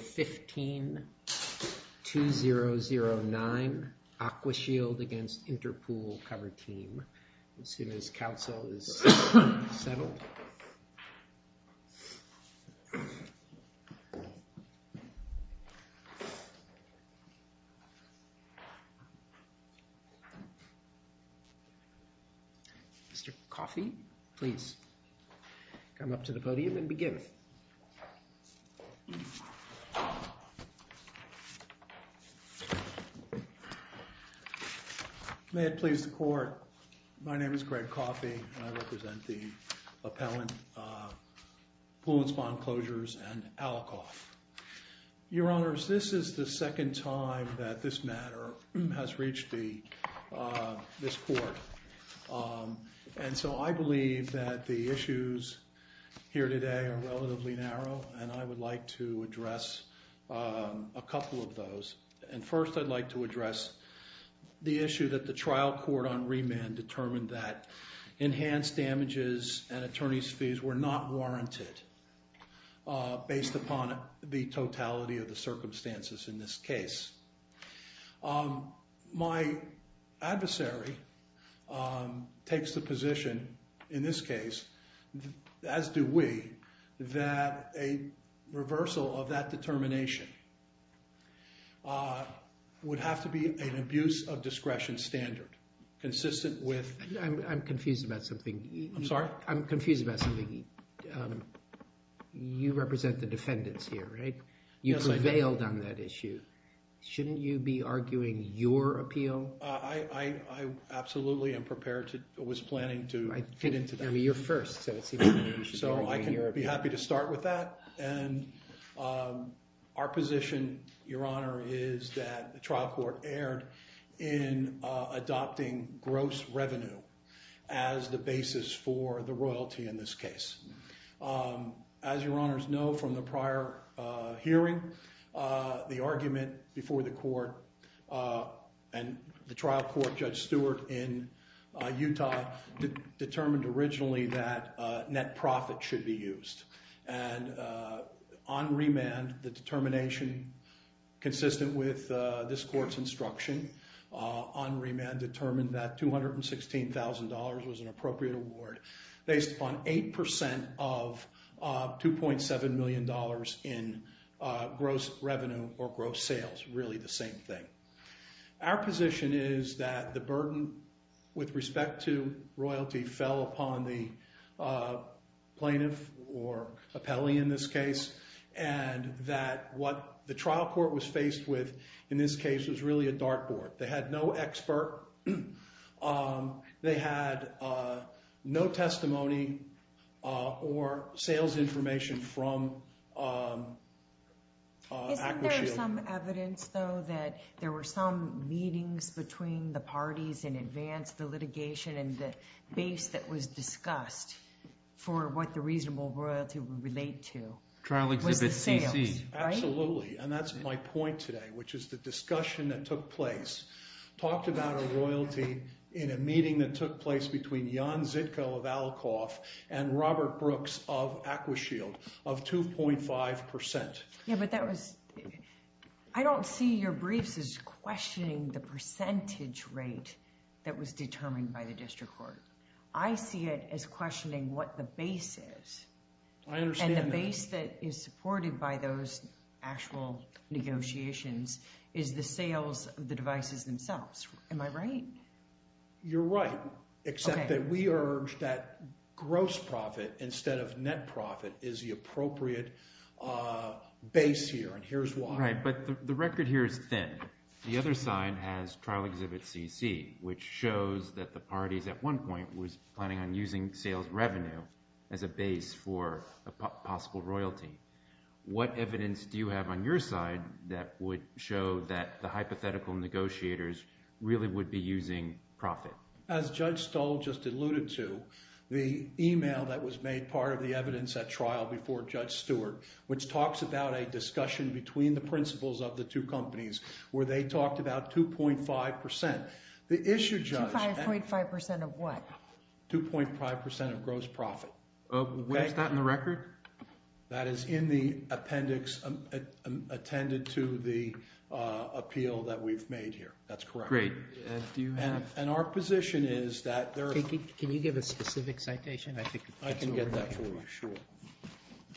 15-2009 Aqua Shield v. Interpool Pool Cover Team May it please the Court, my name is Greg Coffey and I represent the Appellant Pool and Spawn Closures and Alcoff. Your Honors, this is the second time that this matter has reached this Court and so I believe that the issues here today are relatively narrow and I would like to address a couple of those. And first I'd like to address the issue that the trial court on remand determined that enhanced damages and attorney's fees were not warranted based upon the totality of the circumstances in this case. My adversary takes the position in this case, as do we, that a reversal of that determination would have to be an abuse of discretion standard consistent with... I'm sorry? I'm confused about something. You represent the defendants here, right? You prevailed on that issue. Shouldn't you be arguing your appeal? I absolutely am prepared to, was planning to fit into that. I mean, you're first, so it seems like you should be arguing your appeal. So I can be happy to start with that. And our position, Your Honor, is that the trial court erred in adopting gross revenue as the basis for the royalty in this case. As Your Honors know from the prior hearing, the argument before the court and the trial court, Judge Stewart in Utah, determined originally that net profit should be used. And on remand, the determination consistent with this court's instruction, on remand determined that $216,000 was an appropriate award based upon 8% of $2.7 million in gross revenue or gross sales, really the same thing. Our position is that the burden with respect to royalty fell upon the plaintiff or appellee in this case, and that what the trial court was faced with in this case was really a dartboard. They had no expert. They had no testimony or sales information from Aquashield. Isn't there some evidence, though, that there were some meetings between the parties in advance, the litigation and the base that was discussed for what the reasonable royalty would relate to? Trial Exhibit CC. And that's my point today, which is the discussion that took place, talked about a royalty in a meeting that took place between Jan Zitko of Alcoff and Robert Brooks of Aquashield of 2.5%. Yeah, but that was I don't see your briefs is questioning the percentage rate that was determined by the district court. I see it as questioning what the base is, and the base that is supported by those actual negotiations is the sales of the devices themselves. Am I right? You're right, except that we urge that gross profit instead of net profit is the appropriate base here, and here's why. Right, but the record here is thin. The other side has Trial Exhibit CC, which shows that the parties at one point was planning on using sales revenue as a base for a possible royalty. What evidence do you have on your side that would show that the hypothetical negotiators really would be using profit? As Judge Stoll just alluded to, the email that was made part of the evidence at trial before Judge Stewart, which talks about a discussion between the principles of the two companies where they talked about 2.5%. 2.5% of what? 2.5% of gross profit. Where's that in the record? That is in the appendix attended to the appeal that we've made here. That's correct. Great. And our position is that there are... Can you give a specific citation? I can get that for you, sure.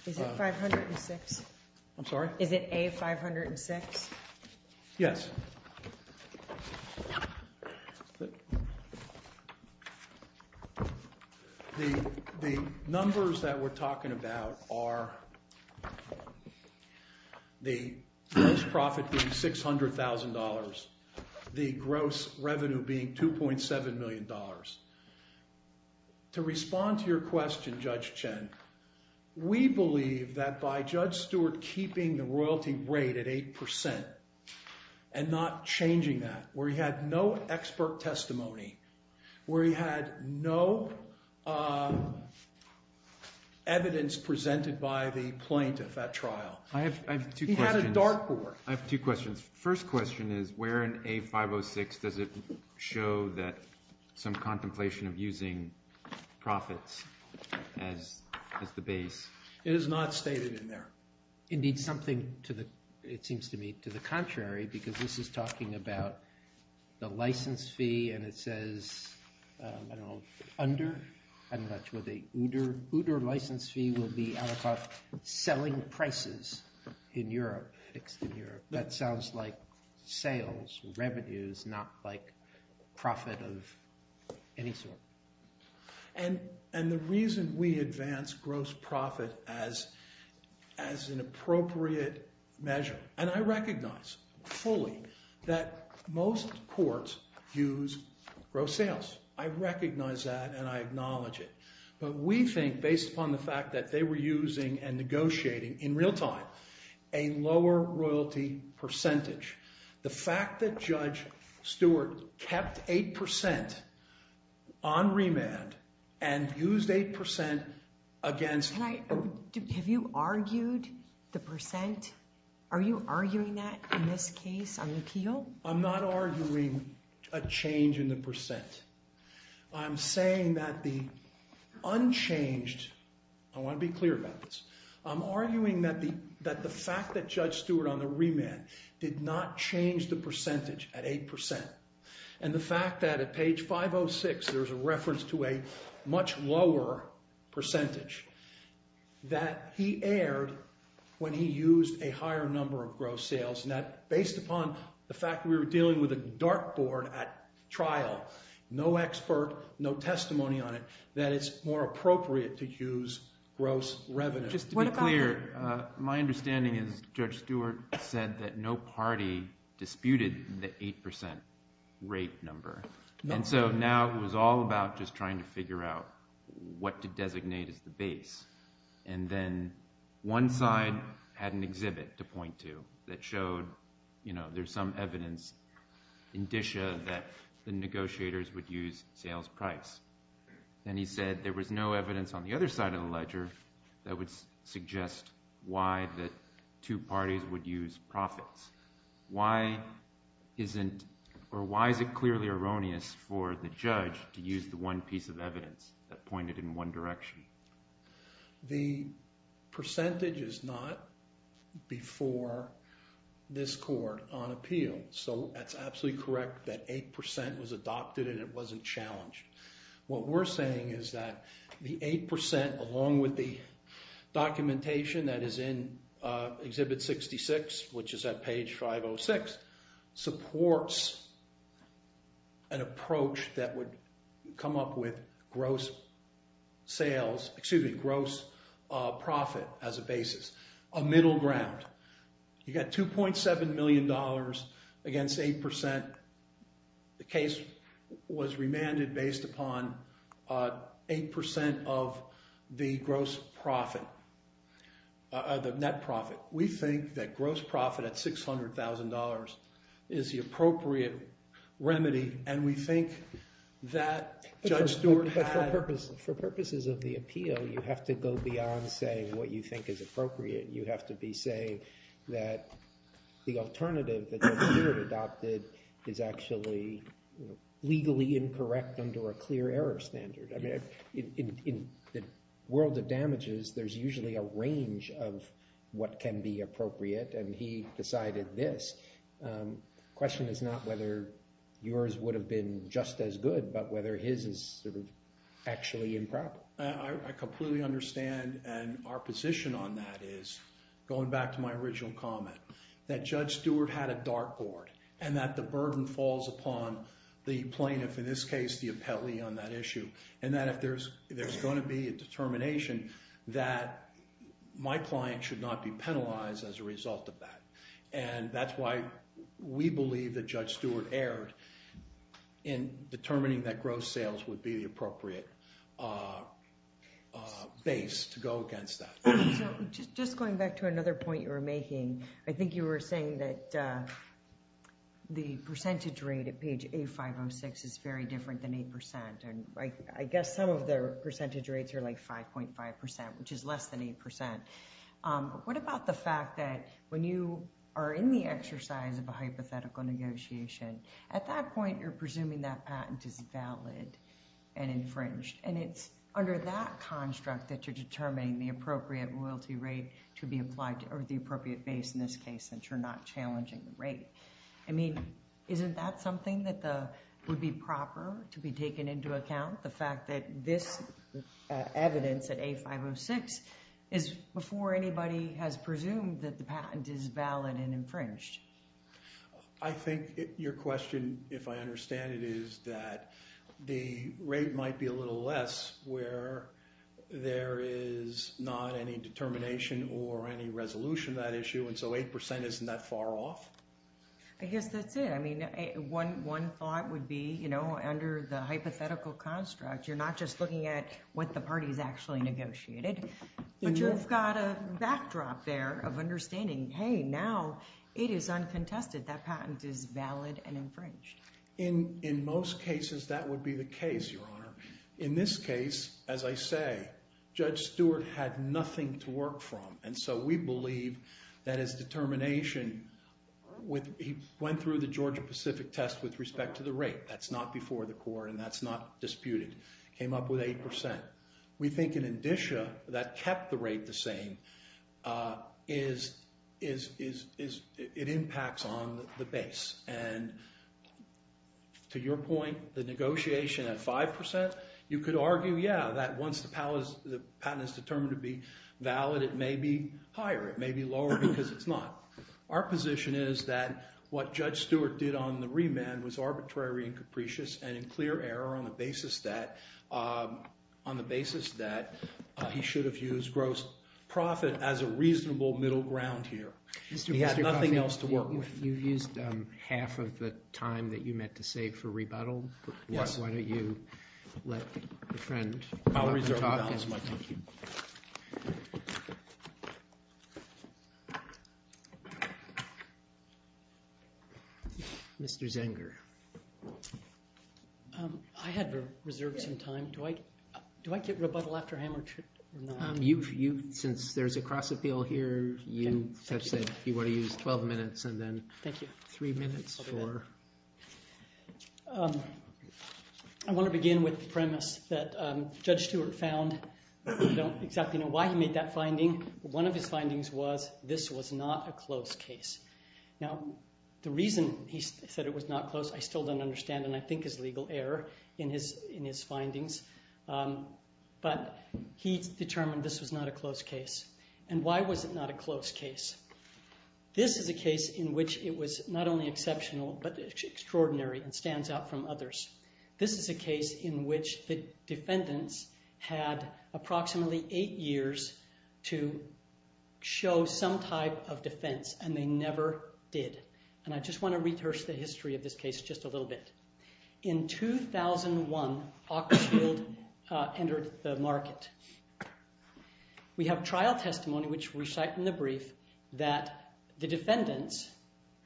Is it 506? I'm sorry? Is it A-506? Yes. The numbers that we're talking about are the gross profit being $600,000, the gross revenue being $2.7 million. To respond to your question, Judge Chen, we believe that by Judge Stewart keeping the royalty rate at 8% and not changing that, where he had no expert testimony, where he had no evidence presented by the plaintiff at trial. I have two questions. He had a dark board. I have two questions. First question is where in A-506 does it show that some contemplation of using profits as the base? It is not stated in there. Indeed, something, it seems to me, to the contrary, because this is talking about the license fee, and it says, I don't know, under? I don't know what you would think. Uder license fee will be out of selling prices in Europe. That sounds like sales, revenues, not like profit of any sort. And the reason we advance gross profit as an appropriate measure, and I recognize fully that most courts use gross sales. I recognize that, and I acknowledge it. But we think, based upon the fact that they were using and negotiating in real time, a lower royalty percentage. The fact that Judge Stewart kept 8% on remand and used 8% against Have you argued the percent? Are you arguing that in this case on appeal? I'm not arguing a change in the percent. I'm saying that the unchanged, I want to be clear about this, I'm arguing that the fact that Judge Stewart on the remand did not change the percentage at 8%, and the fact that at page 506 there's a reference to a much lower percentage, that he erred when he used a higher number of gross sales, and that based upon the fact that we were dealing with a dark board at trial, no expert, no testimony on it, that it's more appropriate to use gross revenue. Just to be clear, my understanding is Judge Stewart said that no party disputed the 8% rate number. And so now it was all about just trying to figure out what to designate as the base. And then one side had an exhibit to point to that showed there's some evidence, indicia that the negotiators would use sales price. And he said there was no evidence on the other side of the ledger that would suggest why the two parties would use profits. Why is it clearly erroneous for the judge to use the one piece of evidence that pointed in one direction? The percentage is not before this court on appeal. So that's absolutely correct that 8% was adopted and it wasn't challenged. What we're saying is that the 8%, along with the documentation that is in Exhibit 66, which is at page 506, supports an approach that would come up with gross sales, excuse me, gross profit as a basis, a middle ground. You got $2.7 million against 8%. The case was remanded based upon 8% of the gross profit, the net profit. We think that gross profit at $600,000 is the appropriate remedy, and we think that Judge Stewart had— But for purposes of the appeal, you have to go beyond saying what you think is appropriate. You have to be saying that the alternative that Judge Stewart adopted is actually legally incorrect under a clear error standard. In the world of damages, there's usually a range of what can be appropriate, and he decided this. The question is not whether yours would have been just as good, but whether his is sort of actually improper. I completely understand, and our position on that is, going back to my original comment, that Judge Stewart had a dartboard and that the burden falls upon the plaintiff, in this case, the appellee on that issue, and that if there's going to be a determination, that my client should not be penalized as a result of that. And that's why we believe that Judge Stewart erred in determining that gross sales would be the appropriate base to go against that. So just going back to another point you were making, I think you were saying that the percentage rate at page A506 is very different than 8%, and I guess some of the percentage rates are like 5.5%, which is less than 8%. But what about the fact that when you are in the exercise of a hypothetical negotiation, at that point you're presuming that patent is valid and infringed, and it's under that construct that you're determining the appropriate royalty rate to be applied to the appropriate base, in this case, since you're not challenging the rate. I mean, isn't that something that would be proper to be taken into account, the fact that this evidence at A506 is before anybody has presumed that the patent is valid and infringed? I think your question, if I understand it, is that the rate might be a little less where there is not any determination or any resolution to that issue, and so 8% isn't that far off? I guess that's it. I mean, one thought would be, you know, under the hypothetical construct, you're not just looking at what the parties actually negotiated, but you've got a backdrop there of understanding, hey, now it is uncontested. That patent is valid and infringed. In most cases, that would be the case, Your Honor. In this case, as I say, Judge Stewart had nothing to work from, and so we believe that his determination went through the Georgia-Pacific test with respect to the rate. That's not before the court, and that's not disputed. It came up with 8%. We think in indicia, that kept the rate the same. It impacts on the base, and to your point, the negotiation at 5%, you could argue, yeah, that once the patent is determined to be valid, it may be higher, it may be lower, because it's not. Our position is that what Judge Stewart did on the remand was arbitrary and capricious and in clear error on the basis that he should have used gross profit as a reasonable middle ground here. He had nothing else to work with. You used half of the time that you meant to save for rebuttal. Yes. Why don't you let a friend talk? I'll reserve that as my thank you. Mr. Zenger. I had reserved some time. Do I get rebuttal after I am or not? Since there's a cross-appeal here, you said you want to use 12 minutes and then three minutes for... I want to begin with the premise that Judge Stewart found. I don't exactly know why he made that finding. One of his findings was this was not a close case. Now, the reason he said it was not close, I still don't understand, and I think is legal error in his findings. But he determined this was not a close case. And why was it not a close case? This is a case in which it was not only exceptional but extraordinary and stands out from others. This is a case in which the defendants had approximately eight years to show some type of defense and they never did. And I just want to rehearse the history of this case just a little bit. In 2001, AquaShield entered the market. We have trial testimony which we cite in the brief that the defendants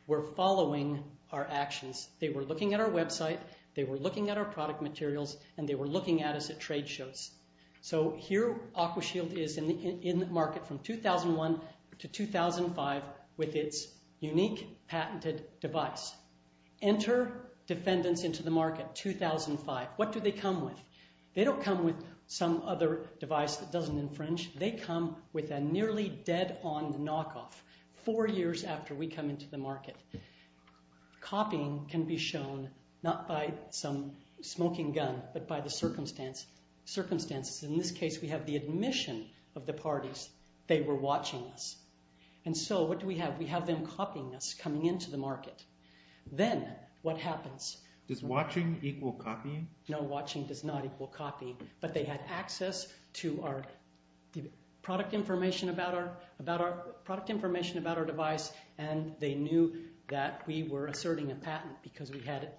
were following our actions. They were looking at our website. They were looking at our product materials, and they were looking at us at trade shows. So here AquaShield is in the market from 2001 to 2005 with its unique patented device. Enter defendants into the market, 2005. What do they come with? They don't come with some other device that doesn't infringe. They come with a nearly dead-on knockoff four years after we come into the market. Copying can be shown not by some smoking gun but by the circumstances. In this case, we have the admission of the parties. They were watching us. And so what do we have? We have them copying us coming into the market. Then what happens? Does watching equal copying? No, watching does not equal copying. But they had access to our product information about our device, and they knew that we were asserting a patent because we had it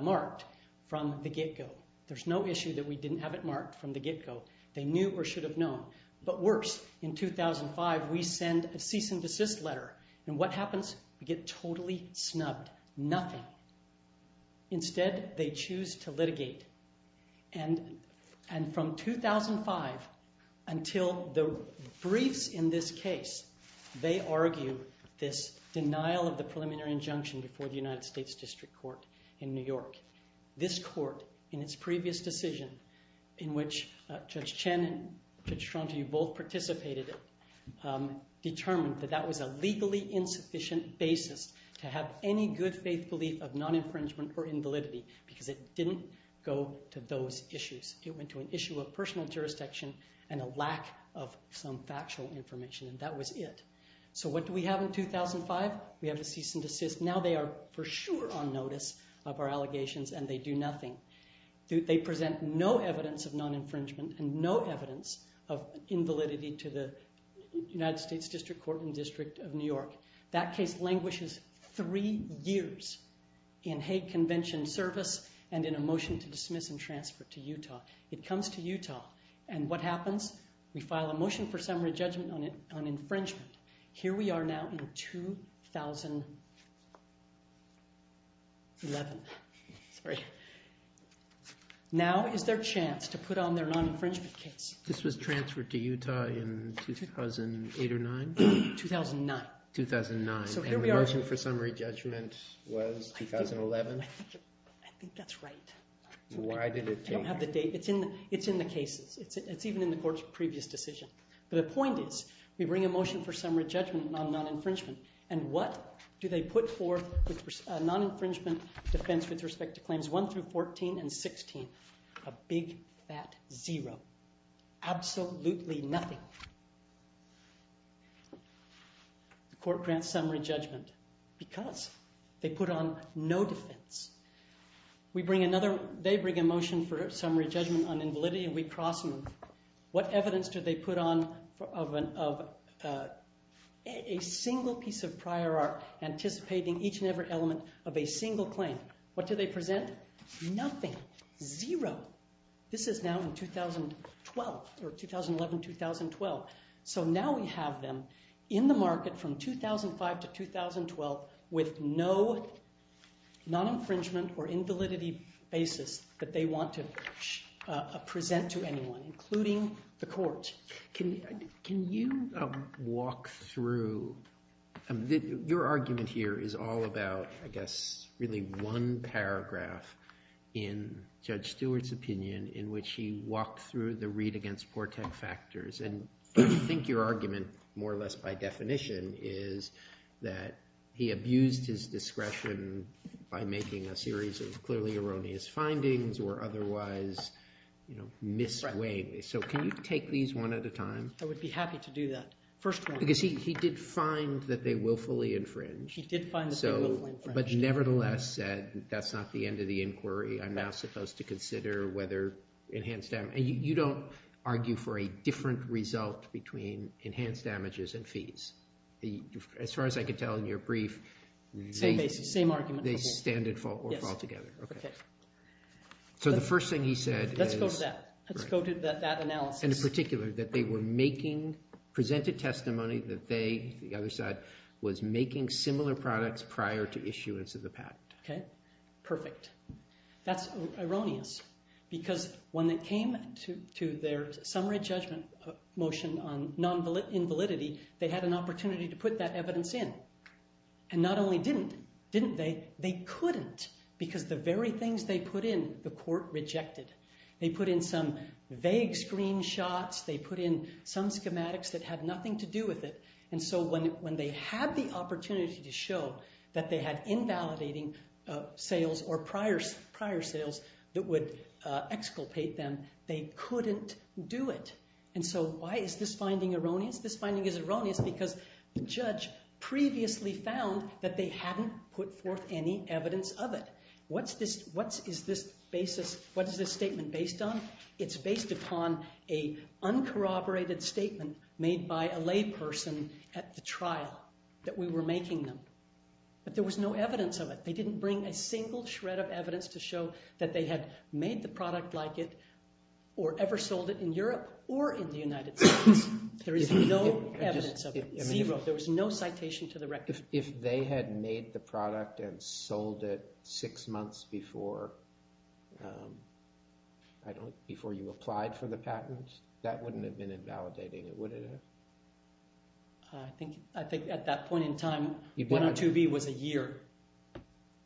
marked from the get-go. There's no issue that we didn't have it marked from the get-go. They knew or should have known. But worse, in 2005, we send a cease-and-desist letter. And what happens? We get totally snubbed, nothing. Instead, they choose to litigate. And from 2005 until the briefs in this case, they argue this denial of the preliminary injunction before the United States District Court in New York. This court, in its previous decision, in which Judge Chen and Judge Stronti both participated, determined that that was a legally insufficient basis to have any good faith belief of non-infringement or invalidity because it didn't go to those issues. It went to an issue of personal jurisdiction and a lack of some factual information, and that was it. So what do we have in 2005? We have a cease-and-desist. Now they are for sure on notice of our allegations, and they do nothing. They present no evidence of non-infringement and no evidence of invalidity to the United States District Court in the District of New York. That case languishes three years in Hague Convention service and in a motion to dismiss and transfer to Utah. It comes to Utah, and what happens? We file a motion for summary judgment on infringement. Here we are now in 2011. Sorry. Now is their chance to put on their non-infringement case. This was transferred to Utah in 2008 or 2009? 2009. 2009, and the motion for summary judgment was 2011? I think that's right. Why did it take? I don't have the date. It's in the cases. It's even in the court's previous decision. But the point is we bring a motion for summary judgment on non-infringement, and what do they put forth with non-infringement defense with respect to claims 1 through 14 and 16? A big fat zero. Absolutely nothing. The court grants summary judgment because they put on no defense. We bring another. They bring a motion for summary judgment on invalidity, and we cross them. What evidence do they put on of a single piece of prior art anticipating each and every element of a single claim? What do they present? Nothing. Zero. This is now in 2012, or 2011-2012. So now we have them in the market from 2005 to 2012 with no non-infringement or invalidity basis that they want to present to anyone, including the court. Can you walk through? Your argument here is all about, I guess, really one paragraph in Judge Stewart's opinion in which he walked through the read against Portek factors. And I think your argument, more or less by definition, is that he abused his discretion by making a series of clearly erroneous findings or otherwise mislead. So can you take these one at a time? I would be happy to do that. First one. Because he did find that they willfully infringe. He did find that they willfully infringe. But nevertheless said that's not the end of the inquiry. I'm now supposed to consider whether enhanced damage. And you don't argue for a different result between enhanced damages and fees. As far as I can tell in your brief, they stand and fall together. Yes. Okay. So the first thing he said is— Let's go to that. Let's go to that analysis. In particular, that they were making—presented testimony that they, the other side, was making similar products prior to issuance of the patent. Okay. Perfect. That's erroneous. Because when it came to their summary judgment motion on invalidity, they had an opportunity to put that evidence in. And not only didn't, didn't they? They couldn't. Because the very things they put in, the court rejected. They put in some vague screenshots. They put in some schematics that had nothing to do with it. And so when they had the opportunity to show that they had invalidating sales or prior sales that would exculpate them, they couldn't do it. And so why is this finding erroneous? This finding is erroneous because the judge previously found that they hadn't put forth any evidence of it. What is this statement based on? It's based upon an uncorroborated statement made by a layperson at the trial that we were making them. But there was no evidence of it. They didn't bring a single shred of evidence to show that they had made the product like it or ever sold it in Europe or in the United States. There is no evidence of it. Zero. There was no citation to the record. If they had made the product and sold it six months before you applied for the patent, that wouldn't have been invalidating it, would it have? I think at that point in time, 102B was a year.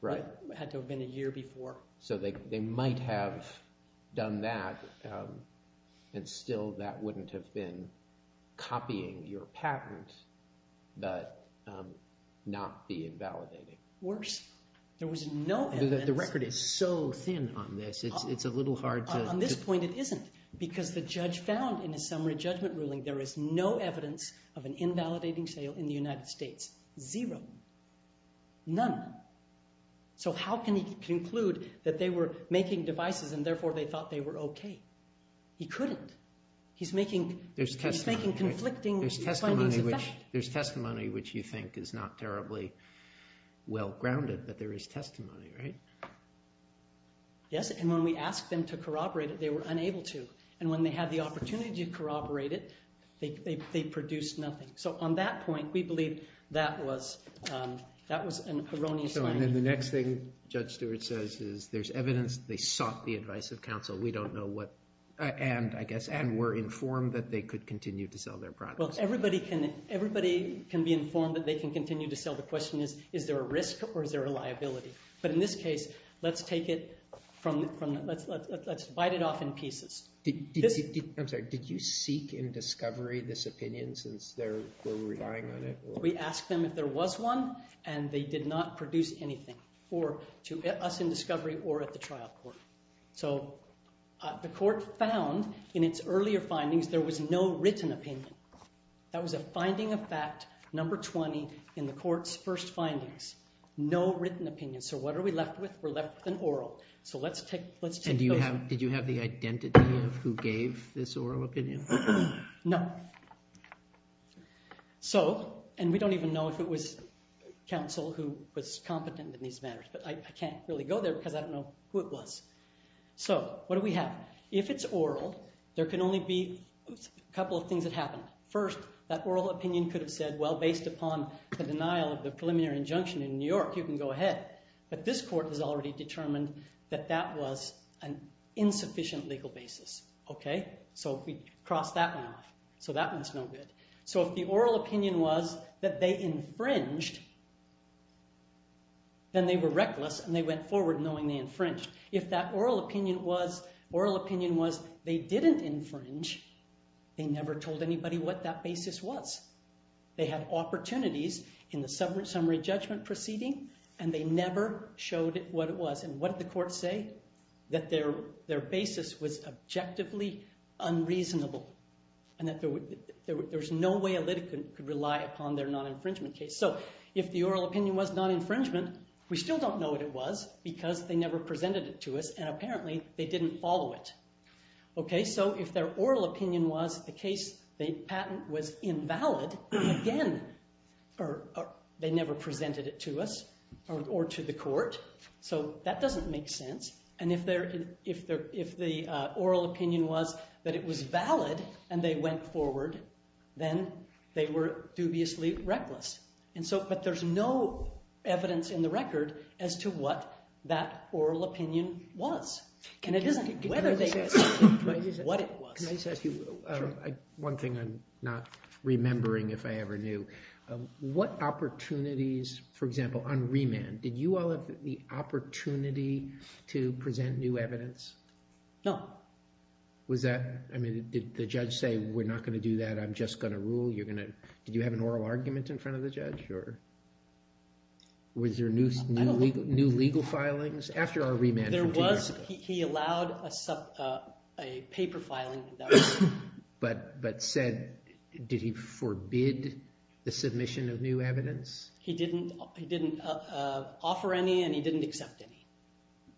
Right. It had to have been a year before. So they might have done that and still that wouldn't have been copying your patent but not be invalidating. Worse. There was no evidence. The record is so thin on this. It's a little hard to— On this point, it isn't because the judge found in a summary judgment ruling there is no evidence of an invalidating sale in the United States. Zero. None. So how can he conclude that they were making devices and therefore they thought they were okay? He couldn't. He's making conflicting findings of fact. There's testimony which you think is not terribly well-grounded but there is testimony, right? Yes, and when we asked them to corroborate it, they were unable to. And when they had the opportunity to corroborate it, they produced nothing. So on that point, we believe that was an erroneous finding. So and then the next thing Judge Stewart says is there's evidence they sought the advice of counsel. We don't know what—and I guess—and were informed that they could continue to sell their products. Well, everybody can be informed that they can continue to sell. The question is, is there a risk or is there a liability? But in this case, let's take it from—let's bite it off in pieces. I'm sorry. Did you seek in discovery this opinion since they were relying on it? We asked them if there was one, and they did not produce anything for us in discovery or at the trial court. So the court found in its earlier findings there was no written opinion. That was a finding of fact, number 20, in the court's first findings. No written opinion. So what are we left with? We're left with an oral. So let's take those— Did you have the identity of who gave this oral opinion? No. So—and we don't even know if it was counsel who was competent in these matters, but I can't really go there because I don't know who it was. So what do we have? If it's oral, there can only be a couple of things that happen. First, that oral opinion could have said, well, based upon the denial of the preliminary injunction in New York, you can go ahead. But this court has already determined that that was an insufficient legal basis. Okay? So we cross that one off. So that one's no good. So if the oral opinion was that they infringed, then they were reckless and they went forward knowing they infringed. If that oral opinion was they didn't infringe, they never told anybody what that basis was. They had opportunities in the summary judgment proceeding, and they never showed what it was. And what did the court say? That their basis was objectively unreasonable and that there's no way a litigant could rely upon their non-infringement case. So if the oral opinion was non-infringement, we still don't know what it was because they never presented it to us, and apparently they didn't follow it. Okay? So if their oral opinion was the case they patent was invalid, again, they never presented it to us or to the court. So that doesn't make sense. And if the oral opinion was that it was valid and they went forward, then they were dubiously reckless. But there's no evidence in the record as to what that oral opinion was. Can I just ask you one thing I'm not remembering if I ever knew. What opportunities, for example, on remand, did you all have the opportunity to present new evidence? No. Was that, I mean, did the judge say, we're not going to do that, I'm just going to rule, you're going to, did you have an oral argument in front of the judge? Was there new legal filings? There was. He allowed a paper filing. But said, did he forbid the submission of new evidence? He didn't offer any and he didn't accept any.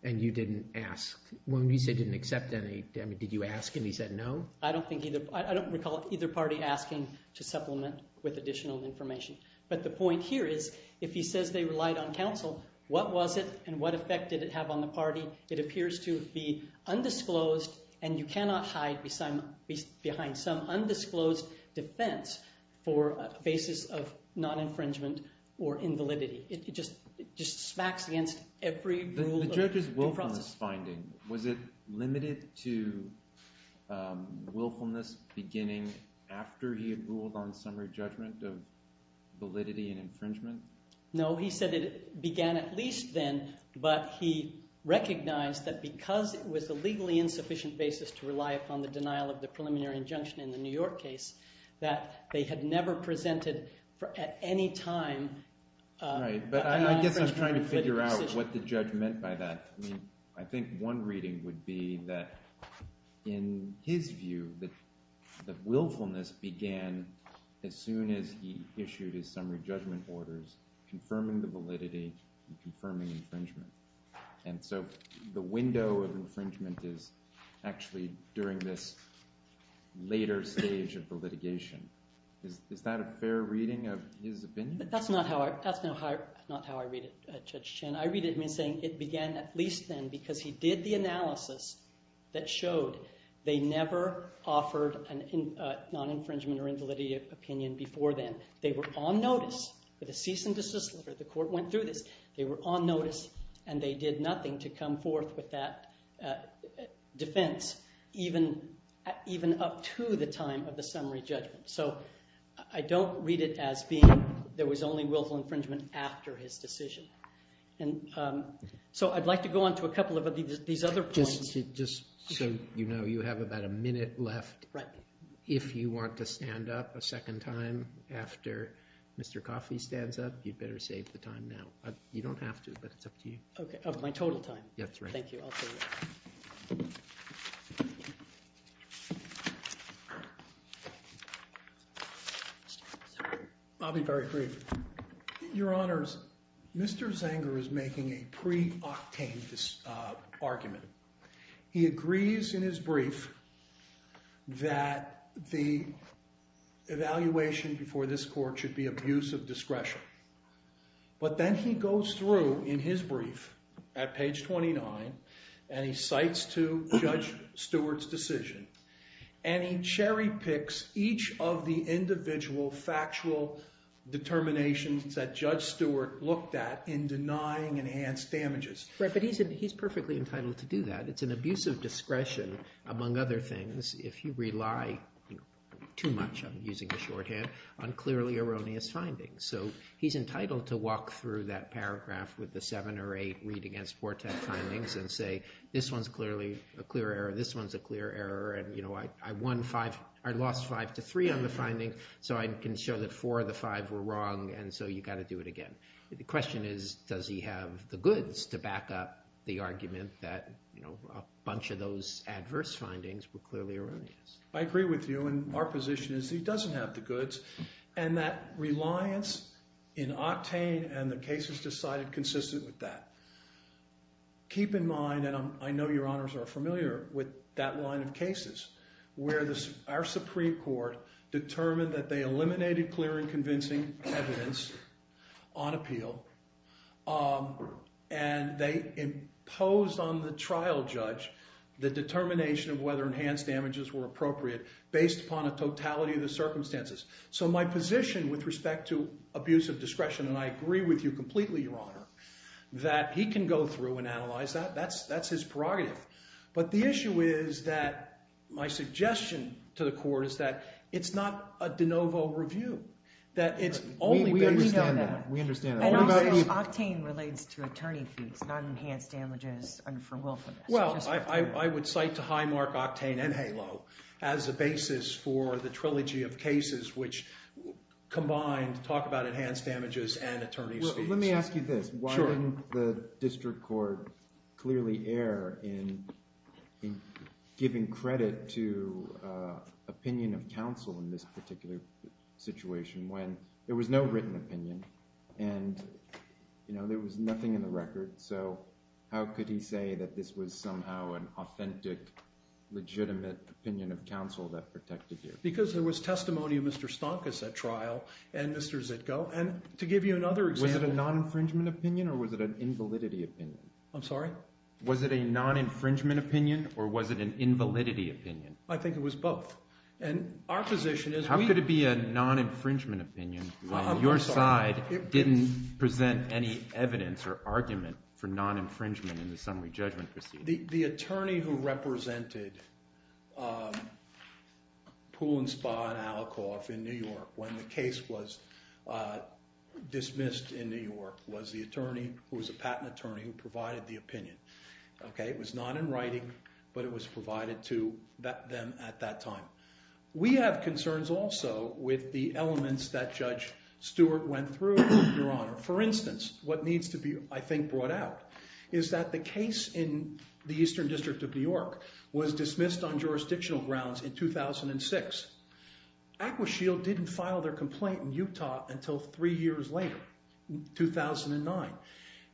And you didn't ask. When you say didn't accept any, did you ask and he said no? I don't recall either party asking to supplement with additional information. But the point here is if he says they relied on counsel, what was it and what effect did it have on the party? It appears to be undisclosed and you cannot hide behind some undisclosed defense for a basis of non-infringement or invalidity. It just smacks against every rule. Was it limited to willfulness beginning after he had ruled on summary judgment of validity and infringement? No, he said it began at least then, but he recognized that because it was a legally insufficient basis to rely upon the denial of the preliminary injunction in the New York case, that they had never presented at any time a non-infringement or invalidity decision. Right, but I guess I'm trying to figure out what the judge meant by that. I think one reading would be that in his view that the willfulness began as soon as he issued his summary judgment orders confirming the validity and confirming infringement. And so the window of infringement is actually during this later stage of the litigation. Is that a fair reading of his opinion? That's not how I read it, Judge Chin. I read it as saying it began at least then because he did the analysis that showed they never offered a non-infringement or invalidity opinion before then. They were on notice with a cease and desist letter. The court went through this. They were on notice and they did nothing to come forth with that defense even up to the time of the summary judgment. So I don't read it as being there was only willful infringement after his decision. And so I'd like to go on to a couple of these other points. Just so you know, you have about a minute left. Right. If you want to stand up a second time after Mr. Coffey stands up, you'd better save the time now. You don't have to, but it's up to you. Okay, of my total time. That's right. Thank you. I'll be very brief. Your Honors, Mr. Zenger is making a pre-octane argument. He agrees in his brief that the evaluation before this court should be abuse of discretion. But then he goes through in his brief at page 29 and he cites to Judge Stewart's decision. And he cherry picks each of the individual factual determinations that Judge Stewart looked at in denying enhanced damages. Right, but he's perfectly entitled to do that. It's an abuse of discretion, among other things, if you rely too much, I'm using the shorthand, on clearly erroneous findings. So he's entitled to walk through that paragraph with the seven or eight read-against-portent findings and say, this one's clearly a clear error, this one's a clear error, and I lost five to three on the finding, so I can show that four of the five were wrong, and so you've got to do it again. The question is, does he have the goods to back up the argument that a bunch of those adverse findings were clearly erroneous? I agree with you, and our position is he doesn't have the goods. And that reliance in octane and the cases decided consistent with that. Keep in mind, and I know your honors are familiar with that line of cases, where our Supreme Court determined that they eliminated clear and convincing evidence on appeal, and they imposed on the trial judge the determination of whether enhanced damages were appropriate, based upon a totality of the circumstances. So my position with respect to abuse of discretion, and I agree with you completely, your honor, that he can go through and analyze that, that's his prerogative. But the issue is that my suggestion to the court is that it's not a de novo review. That it's only based on that. We understand that. And also, octane relates to attorney fees, not enhanced damages under willfulness. Well, I would cite to high mark octane and halo as a basis for the trilogy of cases, which combined talk about enhanced damages and attorney fees. Let me ask you this. Sure. Why didn't the district court clearly err in giving credit to opinion of counsel in this particular situation, when there was no written opinion, and there was nothing in the record. So how could he say that this was somehow an authentic, legitimate opinion of counsel that protected you? Because there was testimony of Mr. Stonkas at trial and Mr. Zitko. And to give you another example. Was it a non-infringement opinion, or was it an invalidity opinion? I'm sorry? Was it a non-infringement opinion, or was it an invalidity opinion? I think it was both. How could it be a non-infringement opinion when your side didn't present any evidence or argument for non-infringement in the summary judgment proceeding? The attorney who represented Pool and Spa and Alcoff in New York, when the case was dismissed in New York, was the attorney who was a patent attorney who provided the opinion. It was not in writing, but it was provided to them at that time. We have concerns also with the elements that Judge Stewart went through, Your Honor. For instance, what needs to be, I think, brought out is that the case in the Eastern District of New York was dismissed on jurisdictional grounds in 2006. Aqua Shield didn't file their complaint in Utah until three years later, 2009.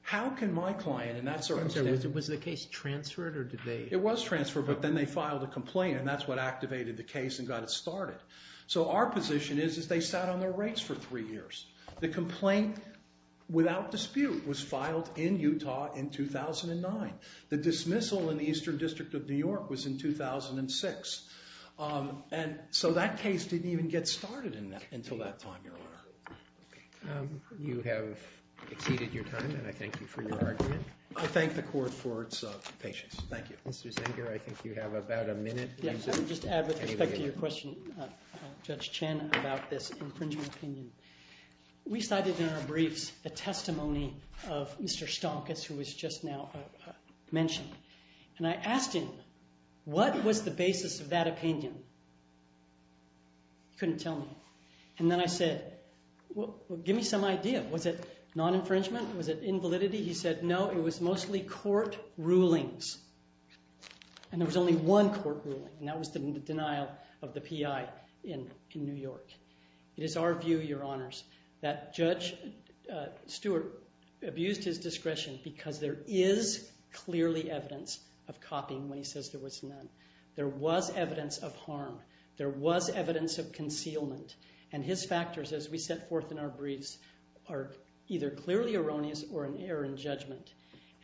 How can my client— Was the case transferred, or did they— It was transferred, but then they filed a complaint, and that's what activated the case and got it started. Our position is they sat on their rates for three years. The complaint, without dispute, was filed in Utah in 2009. The dismissal in the Eastern District of New York was in 2006. That case didn't even get started until that time, Your Honor. You have exceeded your time, and I thank you for your argument. I thank the court for its patience. Thank you. Mr. Zenger, I think you have about a minute. Yes, I would just add with respect to your question, Judge Chen, about this infringement opinion. We cited in our briefs a testimony of Mr. Stonkus, who was just now mentioned. And I asked him, what was the basis of that opinion? He couldn't tell me. And then I said, well, give me some idea. Was it non-infringement? Was it invalidity? He said, no, it was mostly court rulings. And there was only one court ruling, and that was the denial of the PI in New York. It is our view, Your Honors, that Judge Stewart abused his discretion because there is clearly evidence of copying when he says there was none. There was evidence of harm. There was evidence of concealment. And his factors, as we set forth in our briefs, are either clearly erroneous or an error in judgment.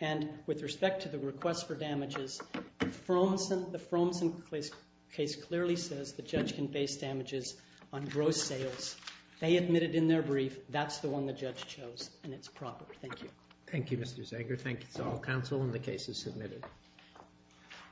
And with respect to the request for damages, the Fromsen case clearly says the judge can base damages on gross sales. They admitted in their brief that's the one the judge chose, and it's proper. Thank you. Thank you, Mr. Zenger. Thank you to all counsel, and the case is submitted.